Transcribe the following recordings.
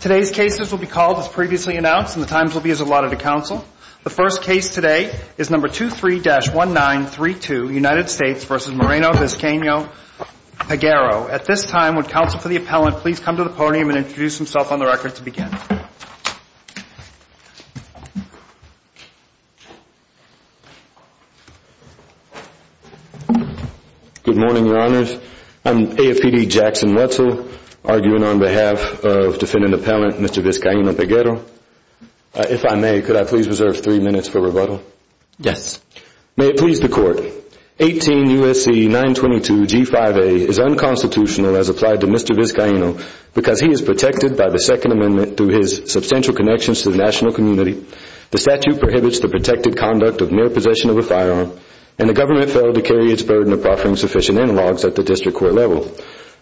Today's cases will be called as previously announced and the times will be as allotted to counsel. The first case today is No. 23-1932, United States v. Moreno-Vizcaino-Peguero. At this time, would counsel for the appellant please come to the podium and introduce himself on the record to begin? Good morning, Your Honors, I'm AFPD Jackson Wetzel, arguing on behalf of defendant appellant Mr. Vizcaino-Peguero. If I may, could I please reserve three minutes for rebuttal? Yes. May it please the Court, 18 U.S.C. 922 G5A is unconstitutional as applied to Mr. Vizcaino because he is protected by the Second Amendment through his substantial connections to the national community, the statute prohibits the protected conduct of mere possession of a firearm, and the government failed to carry its burden of offering sufficient analogs at the district court level.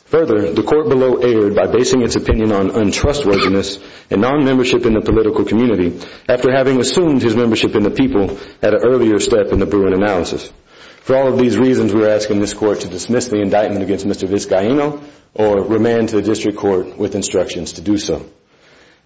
Further, the Court below erred by basing its opinion on untrustworthiness and non-membership in the political community after having assumed his membership in the people at an earlier step in the Bruin analysis. For all of these reasons, we are asking this Court to dismiss the indictment against Mr. Vizcaino or remand to the district court with instructions to do so.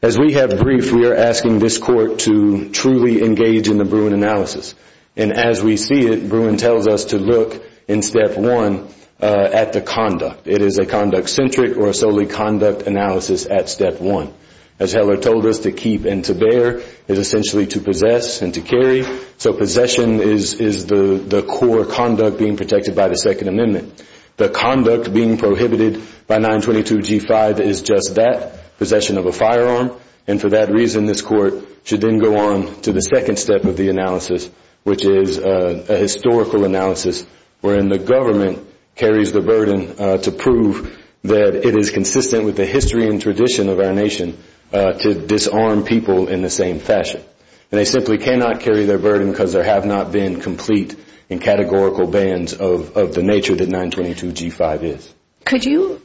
As we have briefed, we are asking this Court to truly engage in the Bruin analysis. As we see it, Bruin tells us to look, in step one, at the conduct. It is a conduct-centric or solely conduct analysis at step one. As Heller told us, to keep and to bear is essentially to possess and to carry. Possession is the core conduct being protected by the Second Amendment. The conduct being prohibited by 922G5 is just that, possession of a firearm, and for that reason this Court should then go on to the second step of the analysis, which is a historical analysis wherein the government carries the burden to prove that it is consistent with the history and tradition of our nation to disarm people in the same fashion. They simply cannot carry their burden because there have not been complete and categorical bans of the nature that 922G5 is. Could you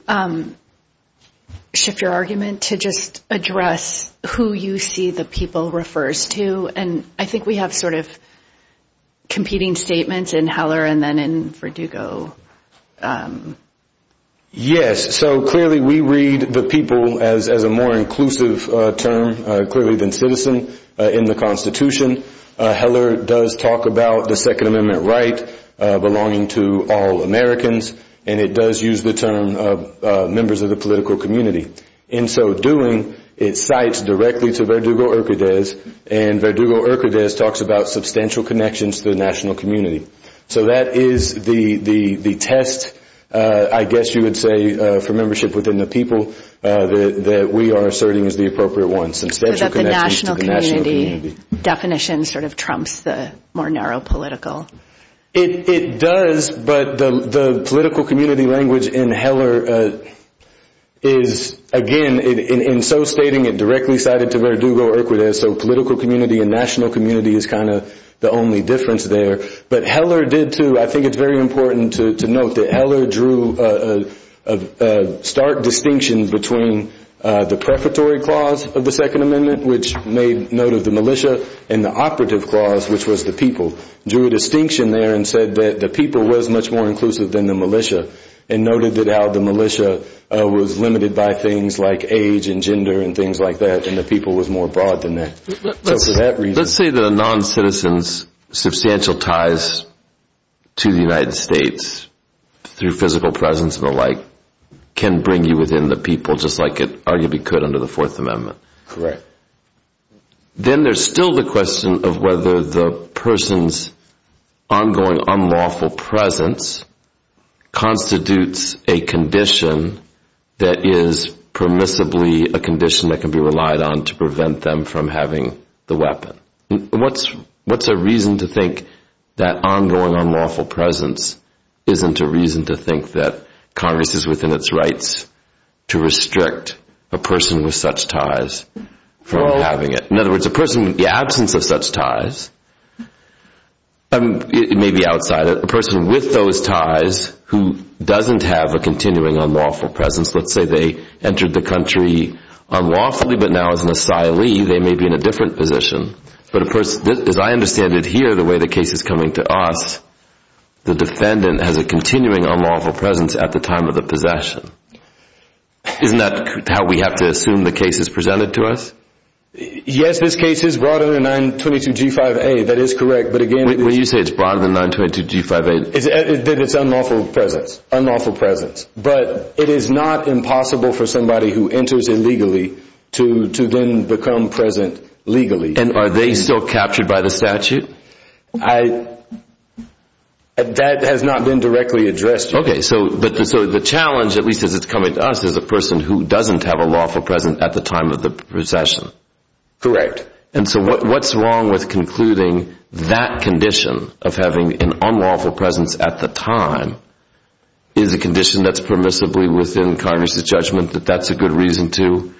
shift your argument to just address who you see the people refers to? I think we have sort of competing statements in Heller and then in Verdugo. Yes, so clearly we read the people as a more inclusive term clearly than citizen in the Constitution. Heller does talk about the Second Amendment right belonging to all Americans, and it does use the term members of the political community. In so doing, it cites directly to Verdugo-Urquidez, and Verdugo-Urquidez talks about substantial connections to the national community. So that is the test, I guess you would say, for membership within the people that we are asserting is the appropriate one, substantial connections to the national community. That definition sort of trumps the more narrow political. It does, but the political community language in Heller is, again, in so stating it directly cited to Verdugo-Urquidez, so political community and national community is kind of the only difference there. But Heller did, too, I think it's very important to note that Heller drew a stark distinction between the prefatory clause of the Second Amendment, which made note of the militia, and the operative clause, which was the people, drew a distinction there and said that the people was much more inclusive than the militia, and noted that how the militia was limited by things like age and gender and things like that, and the people was more broad than that. Let's say that a non-citizen's substantial ties to the United States through physical presence and the like can bring you within the people just like it arguably could under the Fourth Amendment. Correct. Then there's still the question of whether the person's ongoing unlawful presence constitutes a condition that is permissibly a condition that can be relied on to prevent them from having the weapon. What's a reason to think that ongoing unlawful presence isn't a reason to think that Congress is within its rights to restrict a person with such ties from having it? In other words, a person with the absence of such ties, it may be outside, a person with those ties who doesn't have a continuing unlawful presence, let's say they entered the country unlawfully, but now as an asylee, they may be in a different position, but as I understand it here, the way the case is coming to us, the defendant has a continuing unlawful presence at the time of the possession. Isn't that how we have to assume the case is presented to us? Yes, this case is broader than 922G5A, that is correct, but again... When you say it's broader than 922G5A... That it's unlawful presence, but it is not impossible for somebody who enters illegally to then become present legally. And are they still captured by the statute? That has not been directly addressed yet. Okay, so the challenge, at least as it's coming to us, is a person who doesn't have a lawful presence at the time of the possession. Correct. And so what's wrong with concluding that condition of having an unlawful presence at the time is a condition that's permissibly within Congress' judgment that that's a good reason to,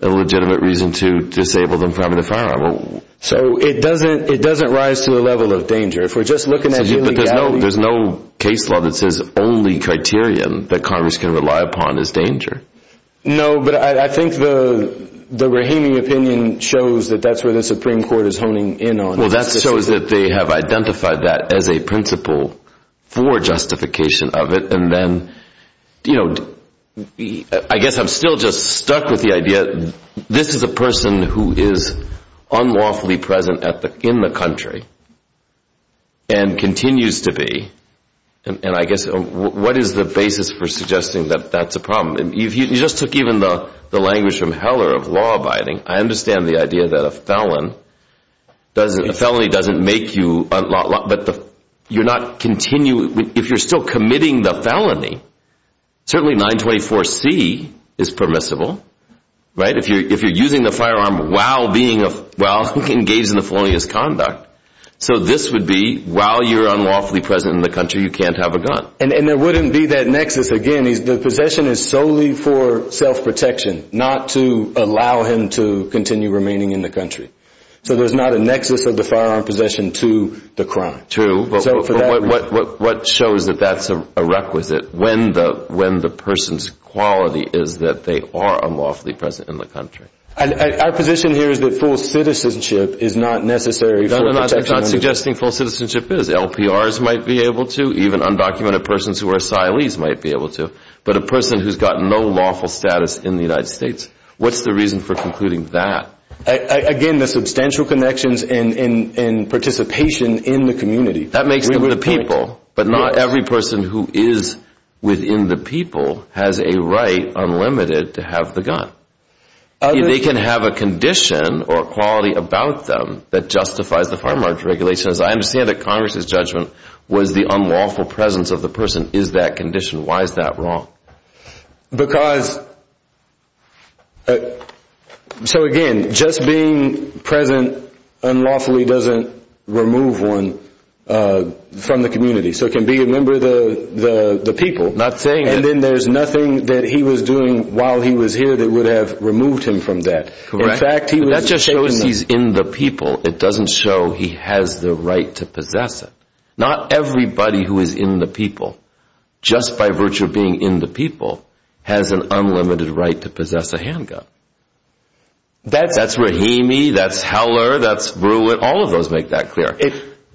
a legitimate reason to disable them from having a firearm? So it doesn't rise to the level of danger. If we're just looking at the legalities... There's no case law that says only criterion that Congress can rely upon is danger. No, but I think the Rahimi opinion shows that that's where the Supreme Court is honing in on. Well, that shows that they have identified that as a principle for justification of it, and then, you know, I guess I'm still just stuck with the idea that this is a person who is unlawfully present in the country and continues to be, and I guess, what is the basis for suggesting that that's a problem? You just took even the language from Heller of law-abiding. I understand the idea that a felony doesn't make you, but you're not continuing, if you're still committing the felony, certainly 924C is permissible, right? If you're using the firearm while engaged in the felonious conduct. So this would be, while you're unlawfully present in the country, you can't have a gun. And there wouldn't be that nexus again. And the possession is solely for self-protection, not to allow him to continue remaining in the country. So there's not a nexus of the firearm possession to the crime. True, but what shows that that's a requisite when the person's quality is that they are unlawfully present in the country? Our position here is that full citizenship is not necessary for protection. I'm not suggesting full citizenship is. The LPRs might be able to, even undocumented persons who are asylees might be able to. But a person who's got no lawful status in the United States, what's the reason for concluding that? Again, the substantial connections and participation in the community. That makes them the people, but not every person who is within the people has a right unlimited to have the gun. They can have a condition or a quality about them that justifies the firearms regulations. I understand that Congress' judgment was the unlawful presence of the person is that condition. Why is that wrong? Because, so again, just being present unlawfully doesn't remove one from the community. So it can be a member of the people. Not saying that. And then there's nothing that he was doing while he was here that would have removed him from that. Correct. That just shows he's in the people. It doesn't show he has the right to possess it. Not everybody who is in the people, just by virtue of being in the people, has an unlimited right to possess a handgun. That's Rahimi, that's Heller, that's Brewett, all of those make that clear.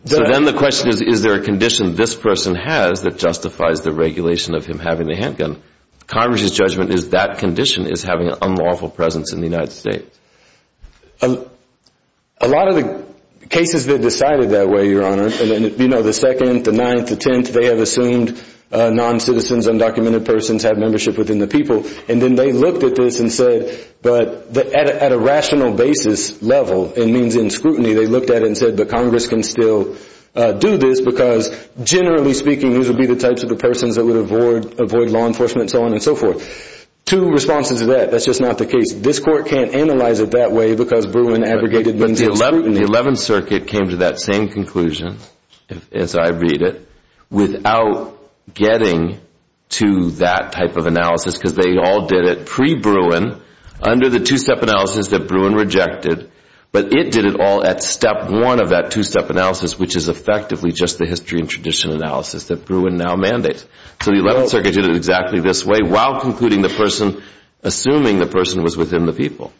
So then the question is, is there a condition this person has that justifies the regulation of him having a handgun? Congress' judgment is that condition is having an unlawful presence in the United States. A lot of the cases that are decided that way, Your Honor, the second, the ninth, the tenth, they have assumed non-citizens, undocumented persons have membership within the people. And then they looked at this and said, but at a rational basis level, it means in scrutiny, they looked at it and said, but Congress can still do this because generally speaking these would be the types of the persons that would avoid law enforcement and so on and so forth. Two responses to that. That's just not the case. This Court can't analyze it that way because Brewin aggregated means in scrutiny. But the 11th Circuit came to that same conclusion, as I read it, without getting to that type of analysis, because they all did it pre-Brewin, under the two-step analysis that Brewin rejected, but it did it all at step one of that two-step analysis, which is effectively just the history and tradition analysis that Brewin now mandates. So the 11th Circuit did it exactly this way, while concluding the person, assuming the person was within the people.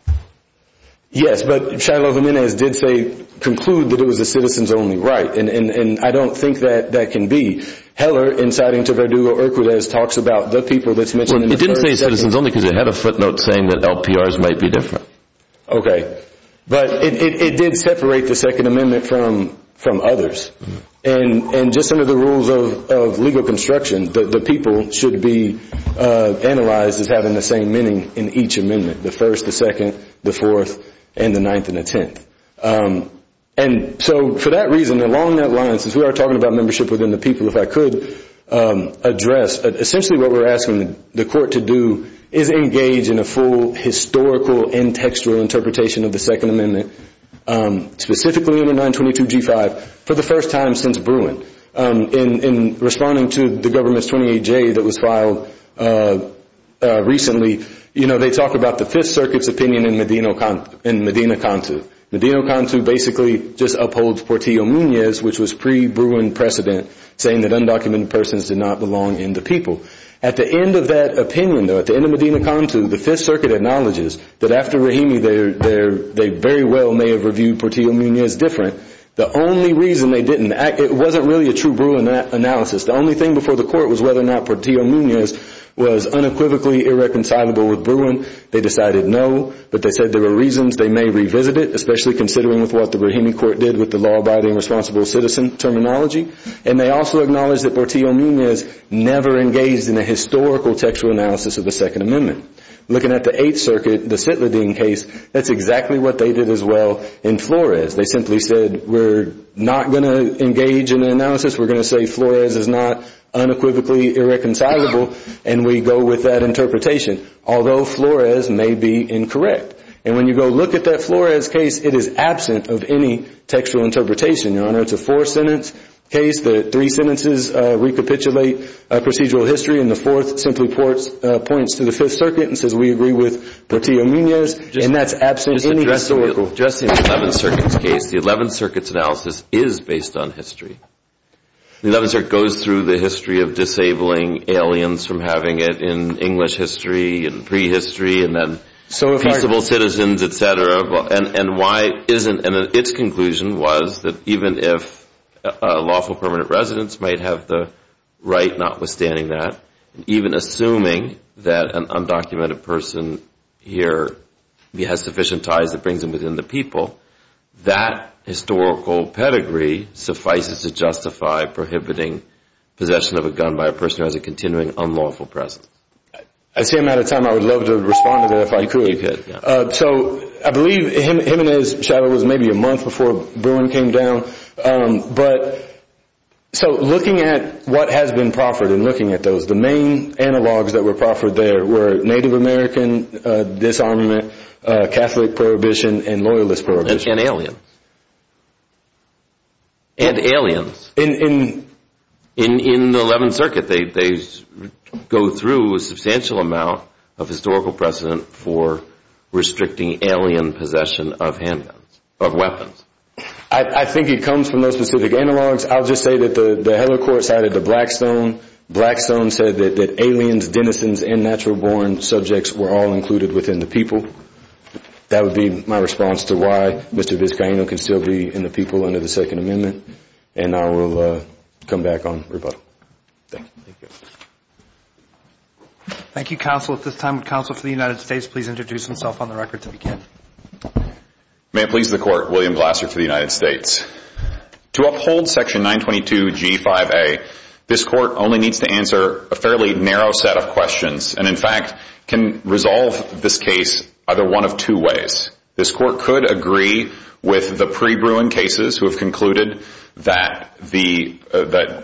Yes, but Shiloh Jimenez did say, conclude that it was a citizens-only right, and I don't think that that can be. Heller, inciting to Verdugo-Hercules, talks about the people that's mentioned in the 13th It didn't say citizens-only because it had a footnote saying that LPRs might be different. Okay. But it did separate the Second Amendment from others. And just under the rules of legal construction, the people should be analyzed as having the same meaning in each amendment, the first, the second, the fourth, and the ninth, and the tenth. And so, for that reason, along that line, since we are talking about membership within the people, if I could address, essentially what we're asking the court to do is engage in a full historical and textual interpretation of the Second Amendment, specifically in the 922G5, for the first time since Brewin. In responding to the Government's 28J that was filed recently, you know, they talk about the Fifth Circuit's opinion in Medina-Cantu. Medina-Cantu basically just upholds Portillo-Muñiz, which was pre-Brewin precedent, saying that undocumented persons did not belong in the people. At the end of that opinion, though, at the end of Medina-Cantu, the Fifth Circuit acknowledges that after Rahimi, they very well may have reviewed Portillo-Muñiz different. The only reason they didn't, it wasn't really a true Brewin analysis. The only thing before the court was whether or not Portillo-Muñiz was unequivocally irreconcilable with Brewin. They decided no, but they said there were reasons they may revisit it, especially considering with what the Rahimi court did with the law-abiding responsible citizen terminology. And they also acknowledge that Portillo-Muñiz never engaged in a historical textual analysis of the Second Amendment. Looking at the Eighth Circuit, the Citladin case, that's exactly what they did as well in Flores. They simply said, we're not going to engage in an analysis, we're going to say Flores is not unequivocally irreconcilable, and we go with that interpretation, although Flores may be incorrect. And when you go look at that Flores case, it is absent of any textual interpretation, Your Honor. It's a four-sentence case, the three sentences recapitulate procedural history, and the fourth simply points to the Fifth Circuit and says, we agree with Portillo-Muñiz, and that's absent any historical. Just in the Eleventh Circuit's case, the Eleventh Circuit's analysis is based on history. The Eleventh Circuit goes through the history of disabling aliens from having it in English history and prehistory and then peaceable citizens, et cetera, and why isn't, and its conclusion was that even if lawful permanent residents might have the right notwithstanding that, even assuming that an undocumented person here has sufficient ties that brings them within the people, that historical pedigree suffices to justify prohibiting possession of a gun by a person who has a continuing unlawful presence. I see I'm out of time. I would love to respond to that if I could. You could, yeah. So I believe him and his shadow was maybe a month before Boone came down, but so looking at what has been proffered and looking at those, the main analogs that were proffered there were Native American disarmament, Catholic prohibition, and Loyalist prohibition. And aliens. And aliens. In the Eleventh Circuit, they go through a substantial amount of historical precedent for restricting alien possession of weapons. I think it comes from those specific analogs. I'll just say that the Heller Court cited the Blackstone. Blackstone said that aliens, denizens, and natural born subjects were all included within the people. That would be my response to why Mr. Vizcaino can still be in the people under the Second Amendment. And I will come back on rebuttal. Thank you. Thank you, Counsel. At this time, would Counsel for the United States please introduce himself on the record to begin? May it please the Court, William Glasser for the United States. To uphold Section 922G5A, this Court only needs to answer a fairly narrow set of questions and, in fact, can resolve this case either one of two ways. This Court could agree with the pre-Bruin cases who have concluded that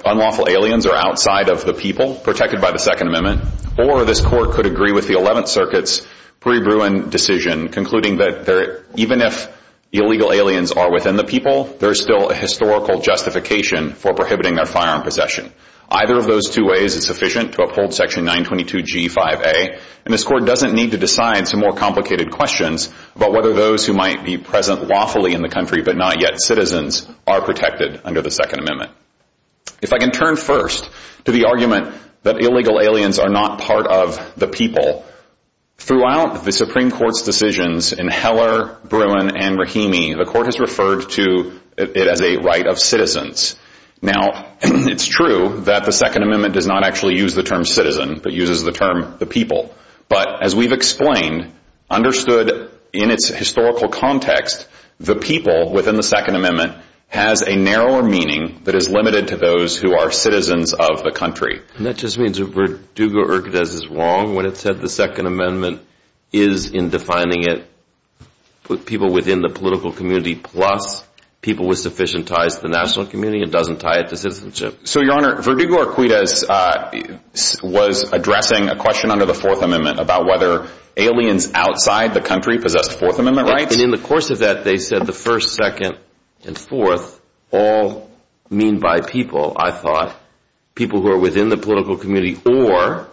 unlawful aliens are outside of the people protected by the Second Amendment, or this Court could agree with the Eleventh Circuit's pre-Bruin decision concluding that even if illegal aliens are within the people, there is still a historical justification for prohibiting their firearm possession. Either of those two ways is sufficient to uphold Section 922G5A, and this Court doesn't need to decide some more complicated questions about whether those who might be present lawfully in the country but not yet citizens are protected under the Second Amendment. If I can turn first to the argument that illegal aliens are not part of the people, throughout the Supreme Court's decisions in Heller, Bruin, and Rahimi, the Court has referred to it as a right of citizens. Now, it's true that the Second Amendment does not actually use the term citizen but uses the term the people. But as we've explained, understood in its historical context, the people within the Second Amendment has a narrower meaning that is limited to those who are citizens of the country. And that just means that Verdugo-Urquidez is wrong when it said the Second Amendment is, in defining it, people within the political community plus people with sufficient ties to the national community. It doesn't tie it to citizenship. So, Your Honor, Verdugo-Urquidez was addressing a question under the Fourth Amendment about whether aliens outside the country possessed Fourth Amendment rights. And in the course of that, they said the first, second, and fourth all mean by people, I thought. People who are within the political community or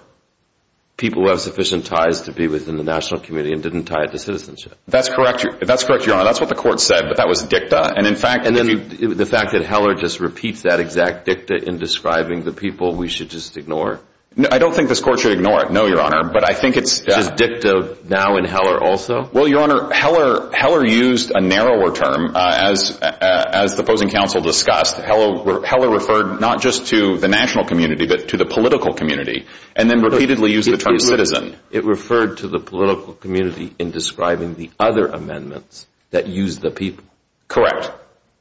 people who have sufficient ties to be within the national community and didn't tie it to citizenship. That's correct. That's correct, Your Honor. That's what the Court said. But that was dicta. And in fact... And the fact that Heller just repeats that exact dicta in describing the people we should just ignore? No, I don't think this Court should ignore it, no, Your Honor. But I think it's... Is dicta now in Heller also? Well, Your Honor, Heller used a narrower term. As the opposing counsel discussed, Heller referred not just to the national community but to the political community and then repeatedly used the term citizen. It referred to the political community in describing the other amendments that use the people.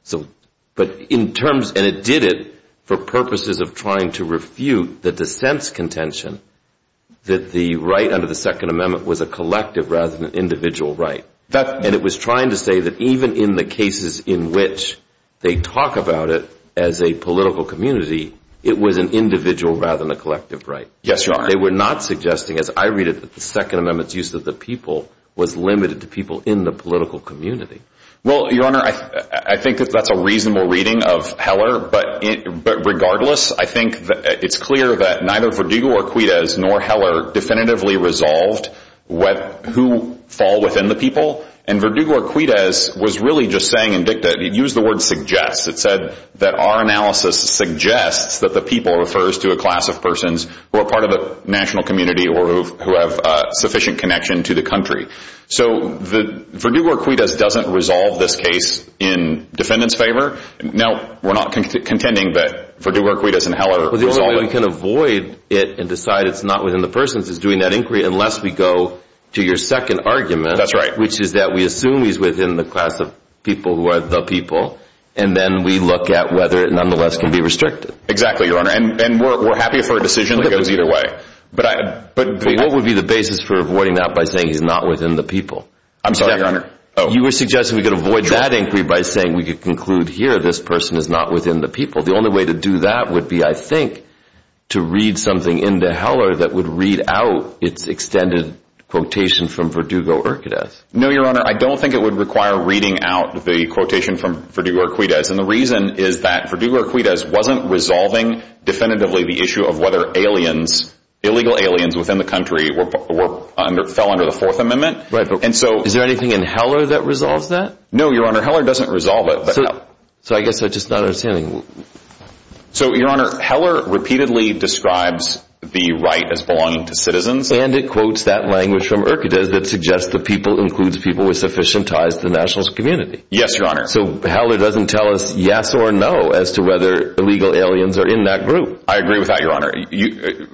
So... But in terms... And it did it for purposes of trying to refute the dissent's contention that the right under the Second Amendment was a collective rather than an individual right. That... And it was trying to say that even in the cases in which they talk about it as a political community, it was an individual rather than a collective right. Yes, Your Honor. They were not suggesting, as I read it, that the Second Amendment's use of the people was limited to people in the political community. Well, Your Honor, I think that that's a reasonable reading of Heller. But regardless, I think it's clear that neither Verdugo or Quidez nor Heller definitively resolved who fall within the people. And Verdugo or Quidez was really just saying in dicta, he used the word suggests, it said that our analysis suggests that the people refers to a class of persons who are part of the national community or who have sufficient connection to the country. So Verdugo or Quidez doesn't resolve this case in defendant's favor. No, we're not contending that Verdugo or Quidez and Heller resolve it. Well, the only way we can avoid it and decide it's not within the persons is doing that inquiry, unless we go to your second argument, which is that we assume he's within the class of people who are the people, and then we look at whether it nonetheless can be restricted. Exactly, Your Honor. And we're happy for a decision that goes either way. But what would be the basis for avoiding that by saying he's not within the people? I'm sorry, Your Honor. Oh. You were suggesting we could avoid that inquiry by saying we could conclude here this person is not within the people. The only way to do that would be, I think, to read something into Heller that would read out its extended quotation from Verdugo or Quidez. No, Your Honor. I don't think it would require reading out the quotation from Verdugo or Quidez. And the reason is that Verdugo or Quidez wasn't resolving definitively the issue of whether aliens, illegal aliens within the country fell under the Fourth Amendment. And so... Is there anything in Heller that resolves that? No, Your Honor. Heller doesn't resolve it. So I guess I'm just not understanding. So, Your Honor, Heller repeatedly describes the right as belonging to citizens. And it quotes that language from Urquidez that suggests the people includes people with sufficient ties to the nationalist community. Yes, Your Honor. So Heller doesn't tell us yes or no as to whether illegal aliens are in that group. I agree with that, Your Honor.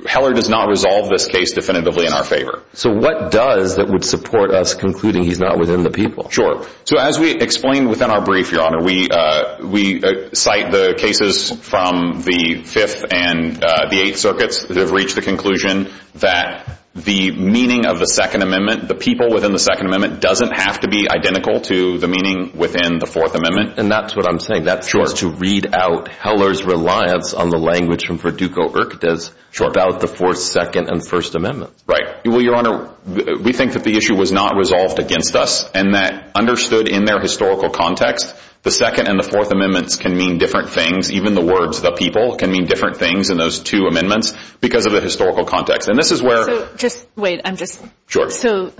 Heller does not resolve this case definitively in our favor. So what does that would support us concluding he's not within the people? Sure. So as we explain within our brief, Your Honor, we cite the cases from the Fifth and the Eighth Circuits that have reached the conclusion that the meaning of the Second Amendment, the people within the Second Amendment, doesn't have to be identical to the meaning within the Fourth Amendment. And that's what I'm saying. That's just to read out Heller's reliance on the language from Verdugo or Quidez about the Fourth, Second, and First Amendments. Right. Well, Your Honor, we think that the issue was not resolved against us and that understood in their historical context, the Second and the Fourth Amendments can mean different things. Even the words the people can mean different things in those two amendments because of the historical context. And this is where... So just wait. I'm just... Sure. So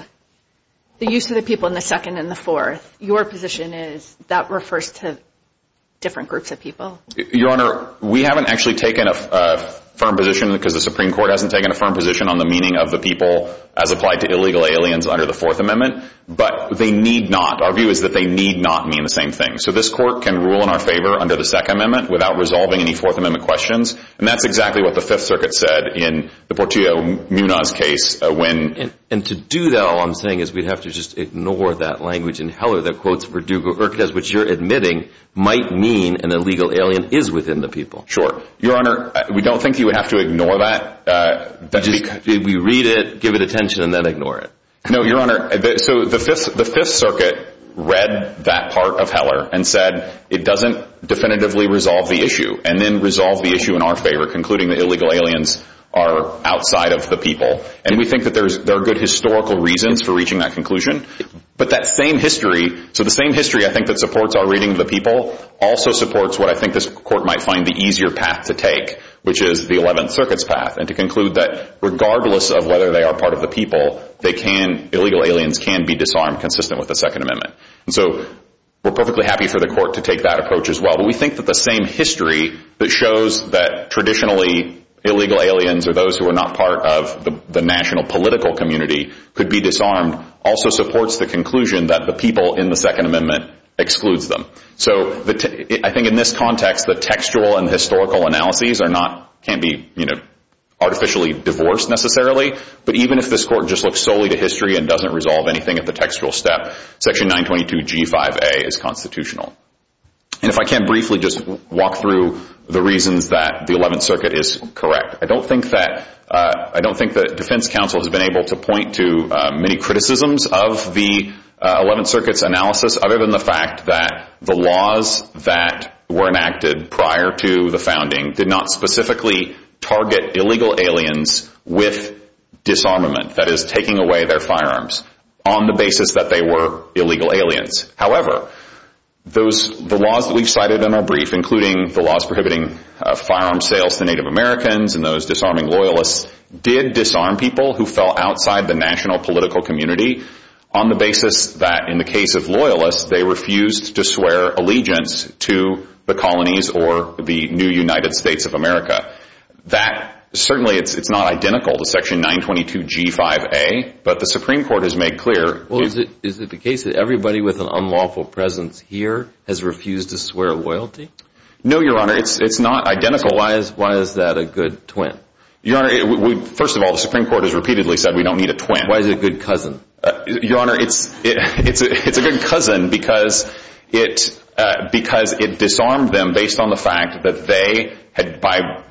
the use of the people in the Second and the Fourth, your position is that refers to different groups of people? Your Honor, we haven't actually taken a firm position because the Supreme Court hasn't taken a firm position on the meaning of the people as applied to illegal aliens under the Fourth Amendment, but they need not. Our view is that they need not mean the same thing. So this court can rule in our favor under the Second Amendment without resolving any Fourth Amendment questions. And that's exactly what the Fifth Circuit said in the Portillo-Munaz case when... And to do that, all I'm saying is we'd have to just ignore that language in Heller that quotes Verdugo or Quidez, which you're admitting might mean an illegal alien is within the people. Sure. Your Honor, we don't think you would have to ignore that. Just... Did we read it, give it attention, and then ignore it? No, your Honor. So the Fifth Circuit read that part of Heller and said it doesn't definitively resolve the issue and then resolve the issue in our favor, concluding that illegal aliens are outside of the people. And we think that there are good historical reasons for reaching that conclusion. But that same history... So the same history I think that supports our reading of the people also supports what I think this Court might find the easier path to take, which is the Eleventh Circuit's path, and to conclude that regardless of whether they are part of the people, they can... Illegal aliens can be disarmed consistent with the Second Amendment. So we're perfectly happy for the Court to take that approach as well. But we think that the same history that shows that traditionally illegal aliens or those who are not part of the national political community could be disarmed also supports the conclusion that the people in the Second Amendment excludes them. So I think in this context, the textual and historical analyses are not... Can't be artificially divorced necessarily, but even if this Court just looks solely to history and doesn't resolve anything at the textual step, Section 922G5A is constitutional. And if I can briefly just walk through the reasons that the Eleventh Circuit is correct. I don't think that Defense Counsel has been able to point to many criticisms of the Eleventh Circuit's analysis other than the fact that the laws that were enacted prior to the founding did not specifically target illegal aliens with disarmament. That is, taking away their firearms on the basis that they were illegal aliens. However, the laws that we've cited in our brief, including the laws prohibiting firearm sales to Native Americans and those disarming loyalists, did disarm people who fell outside the national political community on the basis that in the case of loyalists, they refused to swear allegiance to the colonies or the new United States of America. That certainly, it's not identical to Section 922G5A, but the Supreme Court has made clear... Well, is it the case that everybody with an unlawful presence here has refused to swear loyalty? No, Your Honor. It's not identical. Why is that a good twin? Your Honor, first of all, the Supreme Court has repeatedly said we don't need a twin. Why is it a good cousin? Your Honor, it's a good cousin because it disarmed them based on the fact that they,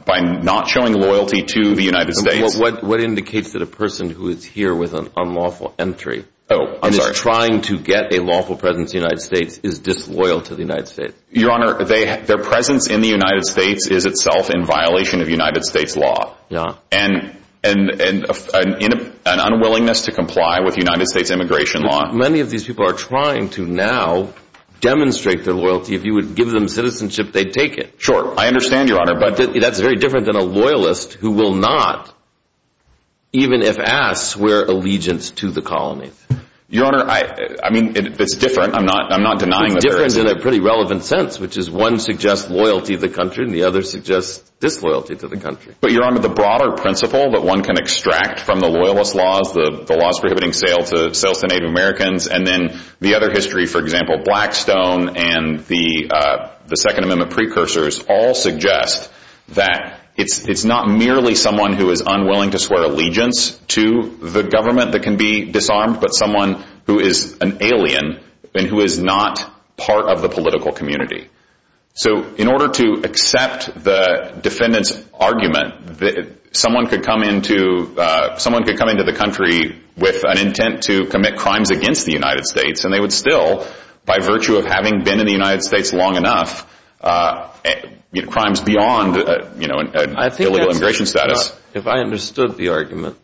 by not showing loyalty to the United States... What indicates that a person who is here with an unlawful entry... Oh, I'm sorry. ...is trying to get a lawful presence in the United States is disloyal to the United States? Your Honor, their presence in the United States is itself in violation of United States law and an unwillingness to comply with United States immigration law. Many of these people are trying to now demonstrate their loyalty. If you would give them citizenship, they'd take it. Sure. I understand, Your Honor. But that's very different than a loyalist who will not, even if asked, swear allegiance to the colonies. Your Honor, I mean, it's different. I'm not denying that there is... It is in a pretty relevant sense, which is one suggests loyalty to the country and the other suggests disloyalty to the country. But Your Honor, the broader principle that one can extract from the loyalist laws, the laws prohibiting sales to Native Americans, and then the other history, for example, Blackstone and the Second Amendment precursors, all suggest that it's not merely someone who is unwilling to swear allegiance to the government that can be disarmed, but someone who is an alien and who is not part of the political community. So in order to accept the defendant's argument, someone could come into the country with an intent to commit crimes against the United States, and they would still, by virtue of having been in the United States long enough, crimes beyond illegal immigration status. If I understood the argument,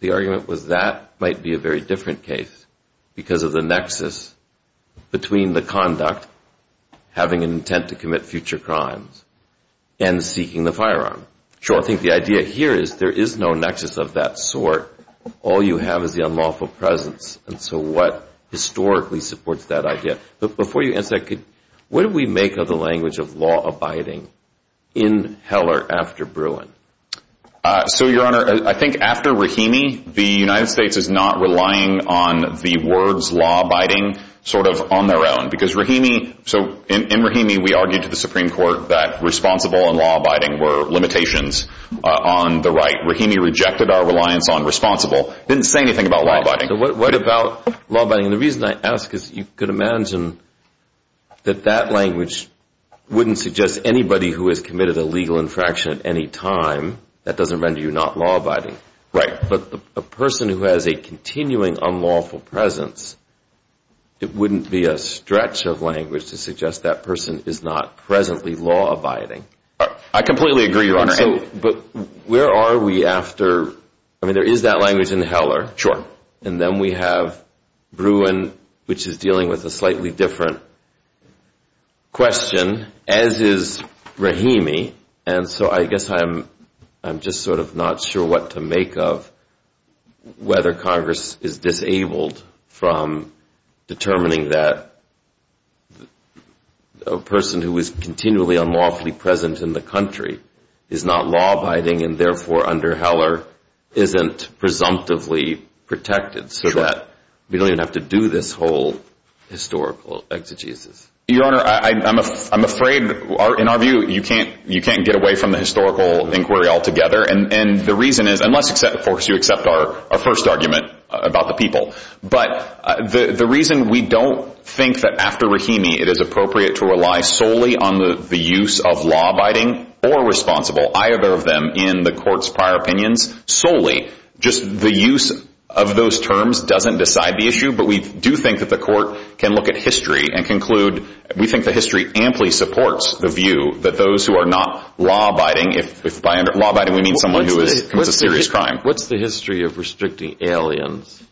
the argument was that might be a very different case because of the nexus between the conduct, having an intent to commit future crimes, and seeking the firearm. Sure. I think the idea here is there is no nexus of that sort. All you have is the unlawful presence, and so what historically supports that idea? Before you answer that, what do we make of the language of law abiding in Heller after Bruin? So, Your Honor, I think after Rahimi, the United States is not relying on the words law abiding sort of on their own, because Rahimi, so in Rahimi, we argued to the Supreme Court that responsible and law abiding were limitations on the right. Rahimi rejected our reliance on responsible, didn't say anything about law abiding. What about law abiding? And the reason I ask is you could imagine that that language wouldn't suggest anybody who has committed a legal infraction at any time, that doesn't render you not law abiding. Right. But a person who has a continuing unlawful presence, it wouldn't be a stretch of language to suggest that person is not presently law abiding. I completely agree, Your Honor. But where are we after, I mean, there is that language in Heller, and then we have Bruin, which is dealing with a slightly different question, as is Rahimi, and so I guess I'm just sort of not sure what to make of whether Congress is disabled from determining that a person who is continually unlawfully present in the country is not law abiding, and therefore under Heller isn't presumptively protected, so that we don't even have to do this whole historical exegesis. Your Honor, I'm afraid, in our view, you can't get away from the historical inquiry altogether, and the reason is, unless, of course, you accept our first argument about the people, but the reason we don't think that after Rahimi it is appropriate to rely solely on the use of law abiding or responsible, either of them, in the Court's prior opinions, solely. Just the use of those terms doesn't decide the issue, but we do think that the Court can look at history and conclude, we think the history amply supports the view that those who are not law abiding, if by law abiding we mean someone who has committed a serious crime. What's the history of restricting aliens,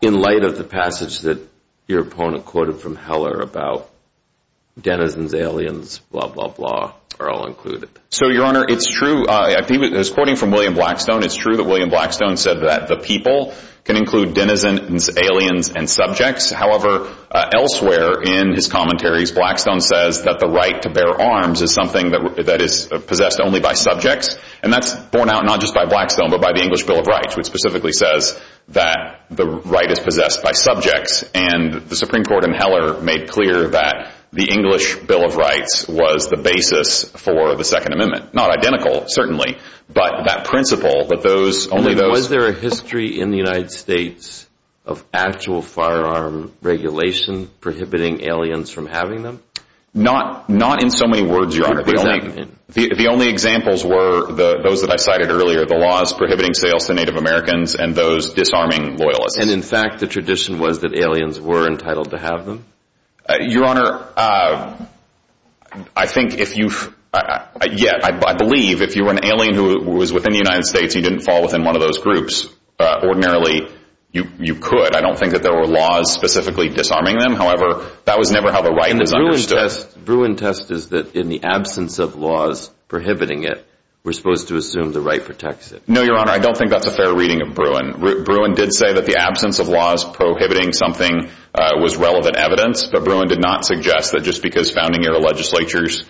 in light of the passage that your opponent quoted from Heller about denizens, aliens, blah, blah, blah, are all included? So Your Honor, it's true, I think it was quoting from William Blackstone, it's true that William Blackstone said that the people can include denizens, aliens, and subjects, however, elsewhere in his commentaries, Blackstone says that the right to bear arms is something that is possessed only by subjects, and that's borne out not just by Blackstone, but by the English Bill of Rights, which specifically says that the right is possessed by subjects, and the Supreme Court in Heller made clear that the English Bill of Rights was the basis for the Second Amendment. Not identical, certainly, but that principle, that those, only those... Was there a history in the United States of actual firearm regulation prohibiting aliens from having them? Not in so many words, Your Honor, the only examples were those that I cited earlier, the laws prohibiting sales to Native Americans, and those disarming loyalists. And in fact, the tradition was that aliens were entitled to have them? Your Honor, I think if you've, yeah, I believe if you were an alien who was within the United States, you didn't fall within one of those groups, ordinarily you could, I don't think that there were laws specifically disarming them, however, that was never how the right was understood. Bruin test is that in the absence of laws prohibiting it, we're supposed to assume the right protects it. No, Your Honor, I don't think that's a fair reading of Bruin. Bruin did say that the absence of laws prohibiting something was relevant evidence, but Bruin did not suggest that just because founding era legislatures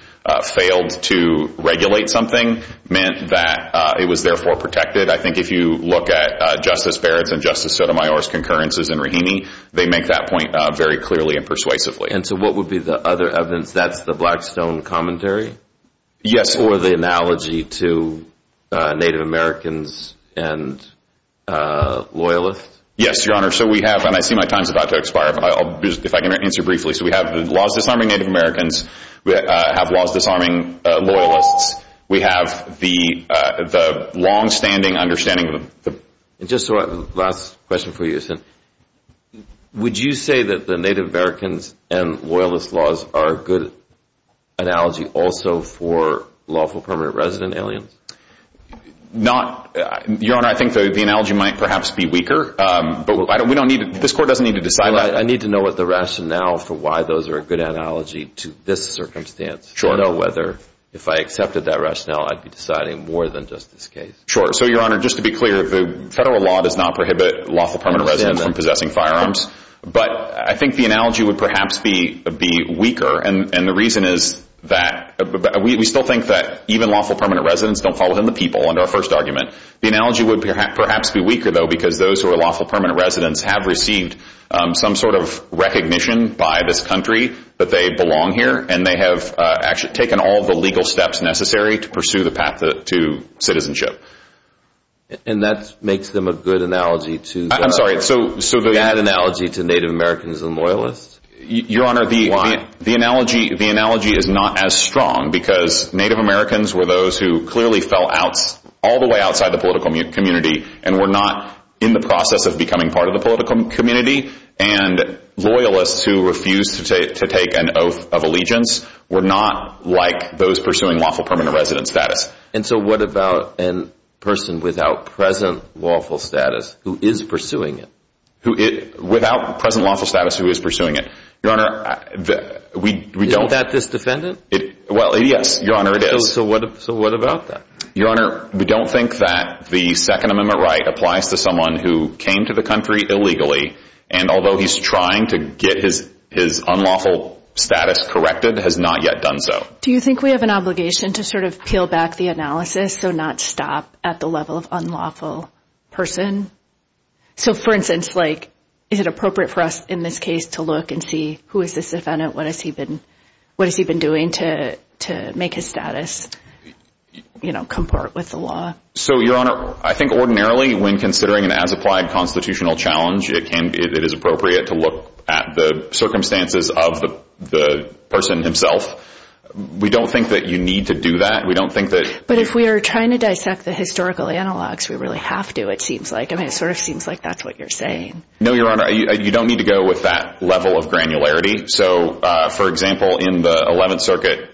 failed to regulate something meant that it was therefore protected. I think if you look at Justice Barrett's and Justice Sotomayor's concurrences in Raheny, they make that point very clearly and persuasively. And so what would be the other evidence? That's the Blackstone Commentary? Yes. Or the analogy to Native Americans and Loyalists? Yes, Your Honor, so we have, and I see my time's about to expire, but I'll, if I can answer briefly, so we have the laws disarming Native Americans, we have laws disarming Loyalists, we have the longstanding understanding of the... Just so I, last question for you, would you say that the Native Americans and Loyalist laws are a good analogy also for lawful permanent resident aliens? Not, Your Honor, I think the analogy might perhaps be weaker, but we don't need, this court doesn't need to decide that. I need to know what the rationale for why those are a good analogy to this circumstance. Sure. I don't know whether, if I accepted that rationale, I'd be deciding more than just this case. Sure, so Your Honor, just to be clear, the federal law does not prohibit lawful permanent residents from possessing firearms, but I think the analogy would perhaps be weaker, and the reason is that we still think that even lawful permanent residents don't fall within the people under our first argument. The analogy would perhaps be weaker, though, because those who are lawful permanent residents have received some sort of recognition by this country that they belong here, and they have actually taken all the legal steps necessary to pursue the path to citizenship. And that makes them a good analogy to... I'm sorry, so... A bad analogy to Native Americans and Loyalists? Your Honor, the analogy is not as strong, because Native Americans were those who clearly fell out, all the way outside the political community, and were not in the process of becoming part of the political community, and Loyalists who refused to take an oath of allegiance were not like those pursuing lawful permanent resident status. And so what about a person without present lawful status who is pursuing it? Without present lawful status who is pursuing it? Your Honor, we don't... Isn't that this defendant? Well, yes, Your Honor, it is. So what about that? Your Honor, we don't think that the Second Amendment right applies to someone who came to the country illegally, and although he's trying to get his unlawful status corrected, has not yet done so. Do you think we have an obligation to sort of peel back the analysis, so not stop at the level of unlawful person? So for instance, like, is it appropriate for us in this case to look and see who is this defendant, what has he been doing to make his status, you know, comport with the law? So Your Honor, I think ordinarily, when considering an as-applied constitutional challenge, it is appropriate to look at the circumstances of the person himself. We don't think that you need to do that. We don't think that... But if we are trying to dissect the historical analogs, we really have to, it seems like. I mean, it sort of seems like that's what you're saying. No, Your Honor, you don't need to go with that level of granularity. So for example, in the 11th Circuit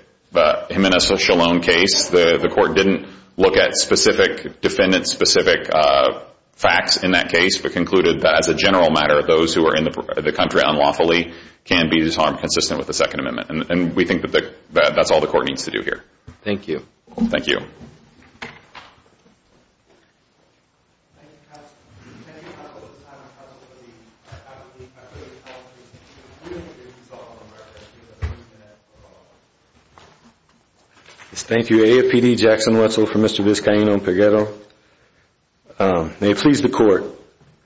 Jimenez-Chalon case, the court didn't look at specific defendant specific facts in that case, but concluded that as a general matter, those who are in the country unlawfully can be disarmed consistent with the Second Amendment. And we think that that's all the court needs to do here. Thank you. Thank you. Thank you, counsel. Can I get a couple at a time, a couple of the faculty, faculty, and all of the... Thank you. I'm going to go to AFPD Jackson Wetzel for Mr. Vizcaíno-Peguero. May it please the court.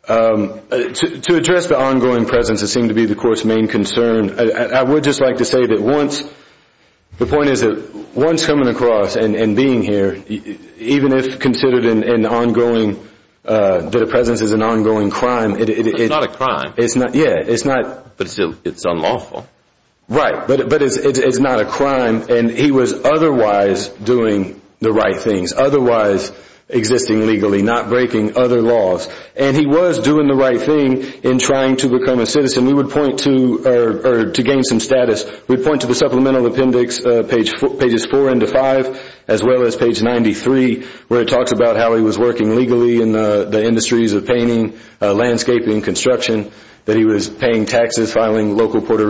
To address the ongoing presence that seemed to be the court's main concern, I would just like to say that once... The point is that once coming across and being here, even if considered an ongoing... That a presence is an ongoing crime... It's not a crime. It's not... Yeah, it's not. But still, it's unlawful. Right. But it's not a crime. And he was otherwise doing the right things, otherwise existing legally, not breaking other laws. And he was doing the right thing in trying to become a citizen. We would point to... To gain some status, we point to the supplemental appendix, pages four into five, as well as page 93, where it talks about how he was working legally in the industries of painting, landscaping, construction, that he was paying taxes, filing local Puerto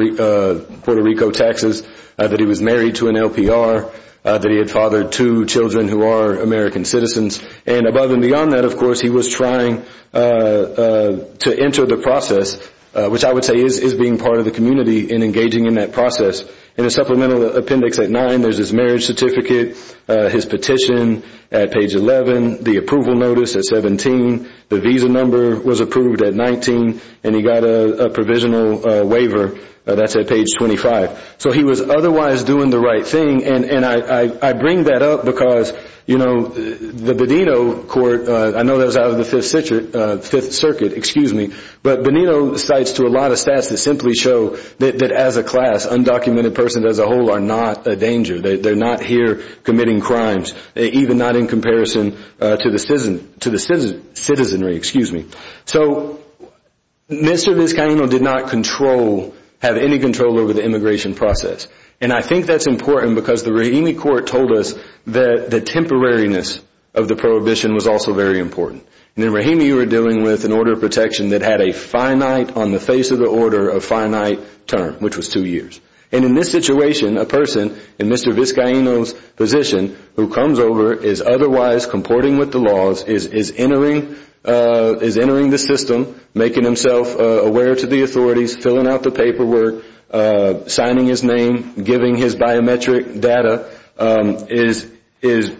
Rico taxes, that he was married to an LPR, that he had fathered two children who are American citizens. And above and beyond that, of course, he was trying to enter the process, which I would say is being part of the community and engaging in that process. In the supplemental appendix at nine, there's his marriage certificate, his petition at page 11, the approval notice at 17, the visa number was approved at 19, and he got a provisional waiver that's at page 25. So he was otherwise doing the right thing. And I bring that up because the Bonito court, I know that was out of the Fifth Circuit, but Bonito cites to a lot of stats that simply show that as a class, undocumented persons as a whole are not a danger. They're not here committing crimes, even not in comparison to the citizenry. So Mr. Vizcaíno did not have any control over the immigration process. And I think that's important because the Rahimi court told us that the temporariness of the prohibition was also very important. And in Rahimi, you were dealing with an order of protection that had a finite, on the face of the order, a finite term, which was two years. And in this situation, a person in Mr. Vizcaíno's position who comes over, is otherwise comporting with the laws, is entering the system, making himself aware to the authorities, filling out the paperwork, signing his name, giving his biometric data, is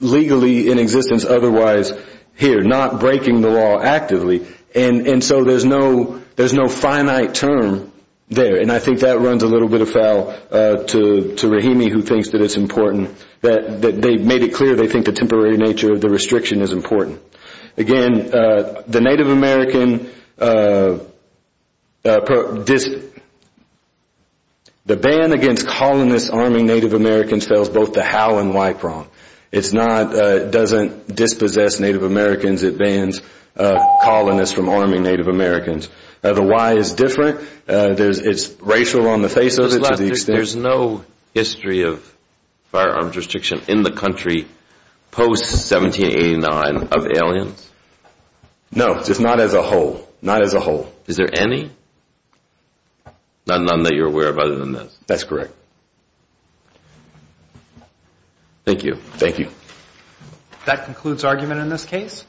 legally in existence otherwise here, not breaking the law actively. And so there's no finite term there. And I think that runs a little bit afoul to Rahimi, who thinks that it's important that they've made it clear they think the temporary nature of the restriction is important. Again, the Native American, the ban against colonists arming Native Americans fails both the how and why prong. It's not, it doesn't dispossess Native Americans, it bans colonists from arming Native Americans. The why is different. It's racial on the face of it to the extent. There's no history of firearms restriction in the country post-1789 of aliens? No, just not as a whole. Not as a whole. Is there any? None that you're aware of other than this? That's correct. Thank you. Thank you. That concludes argument in this case.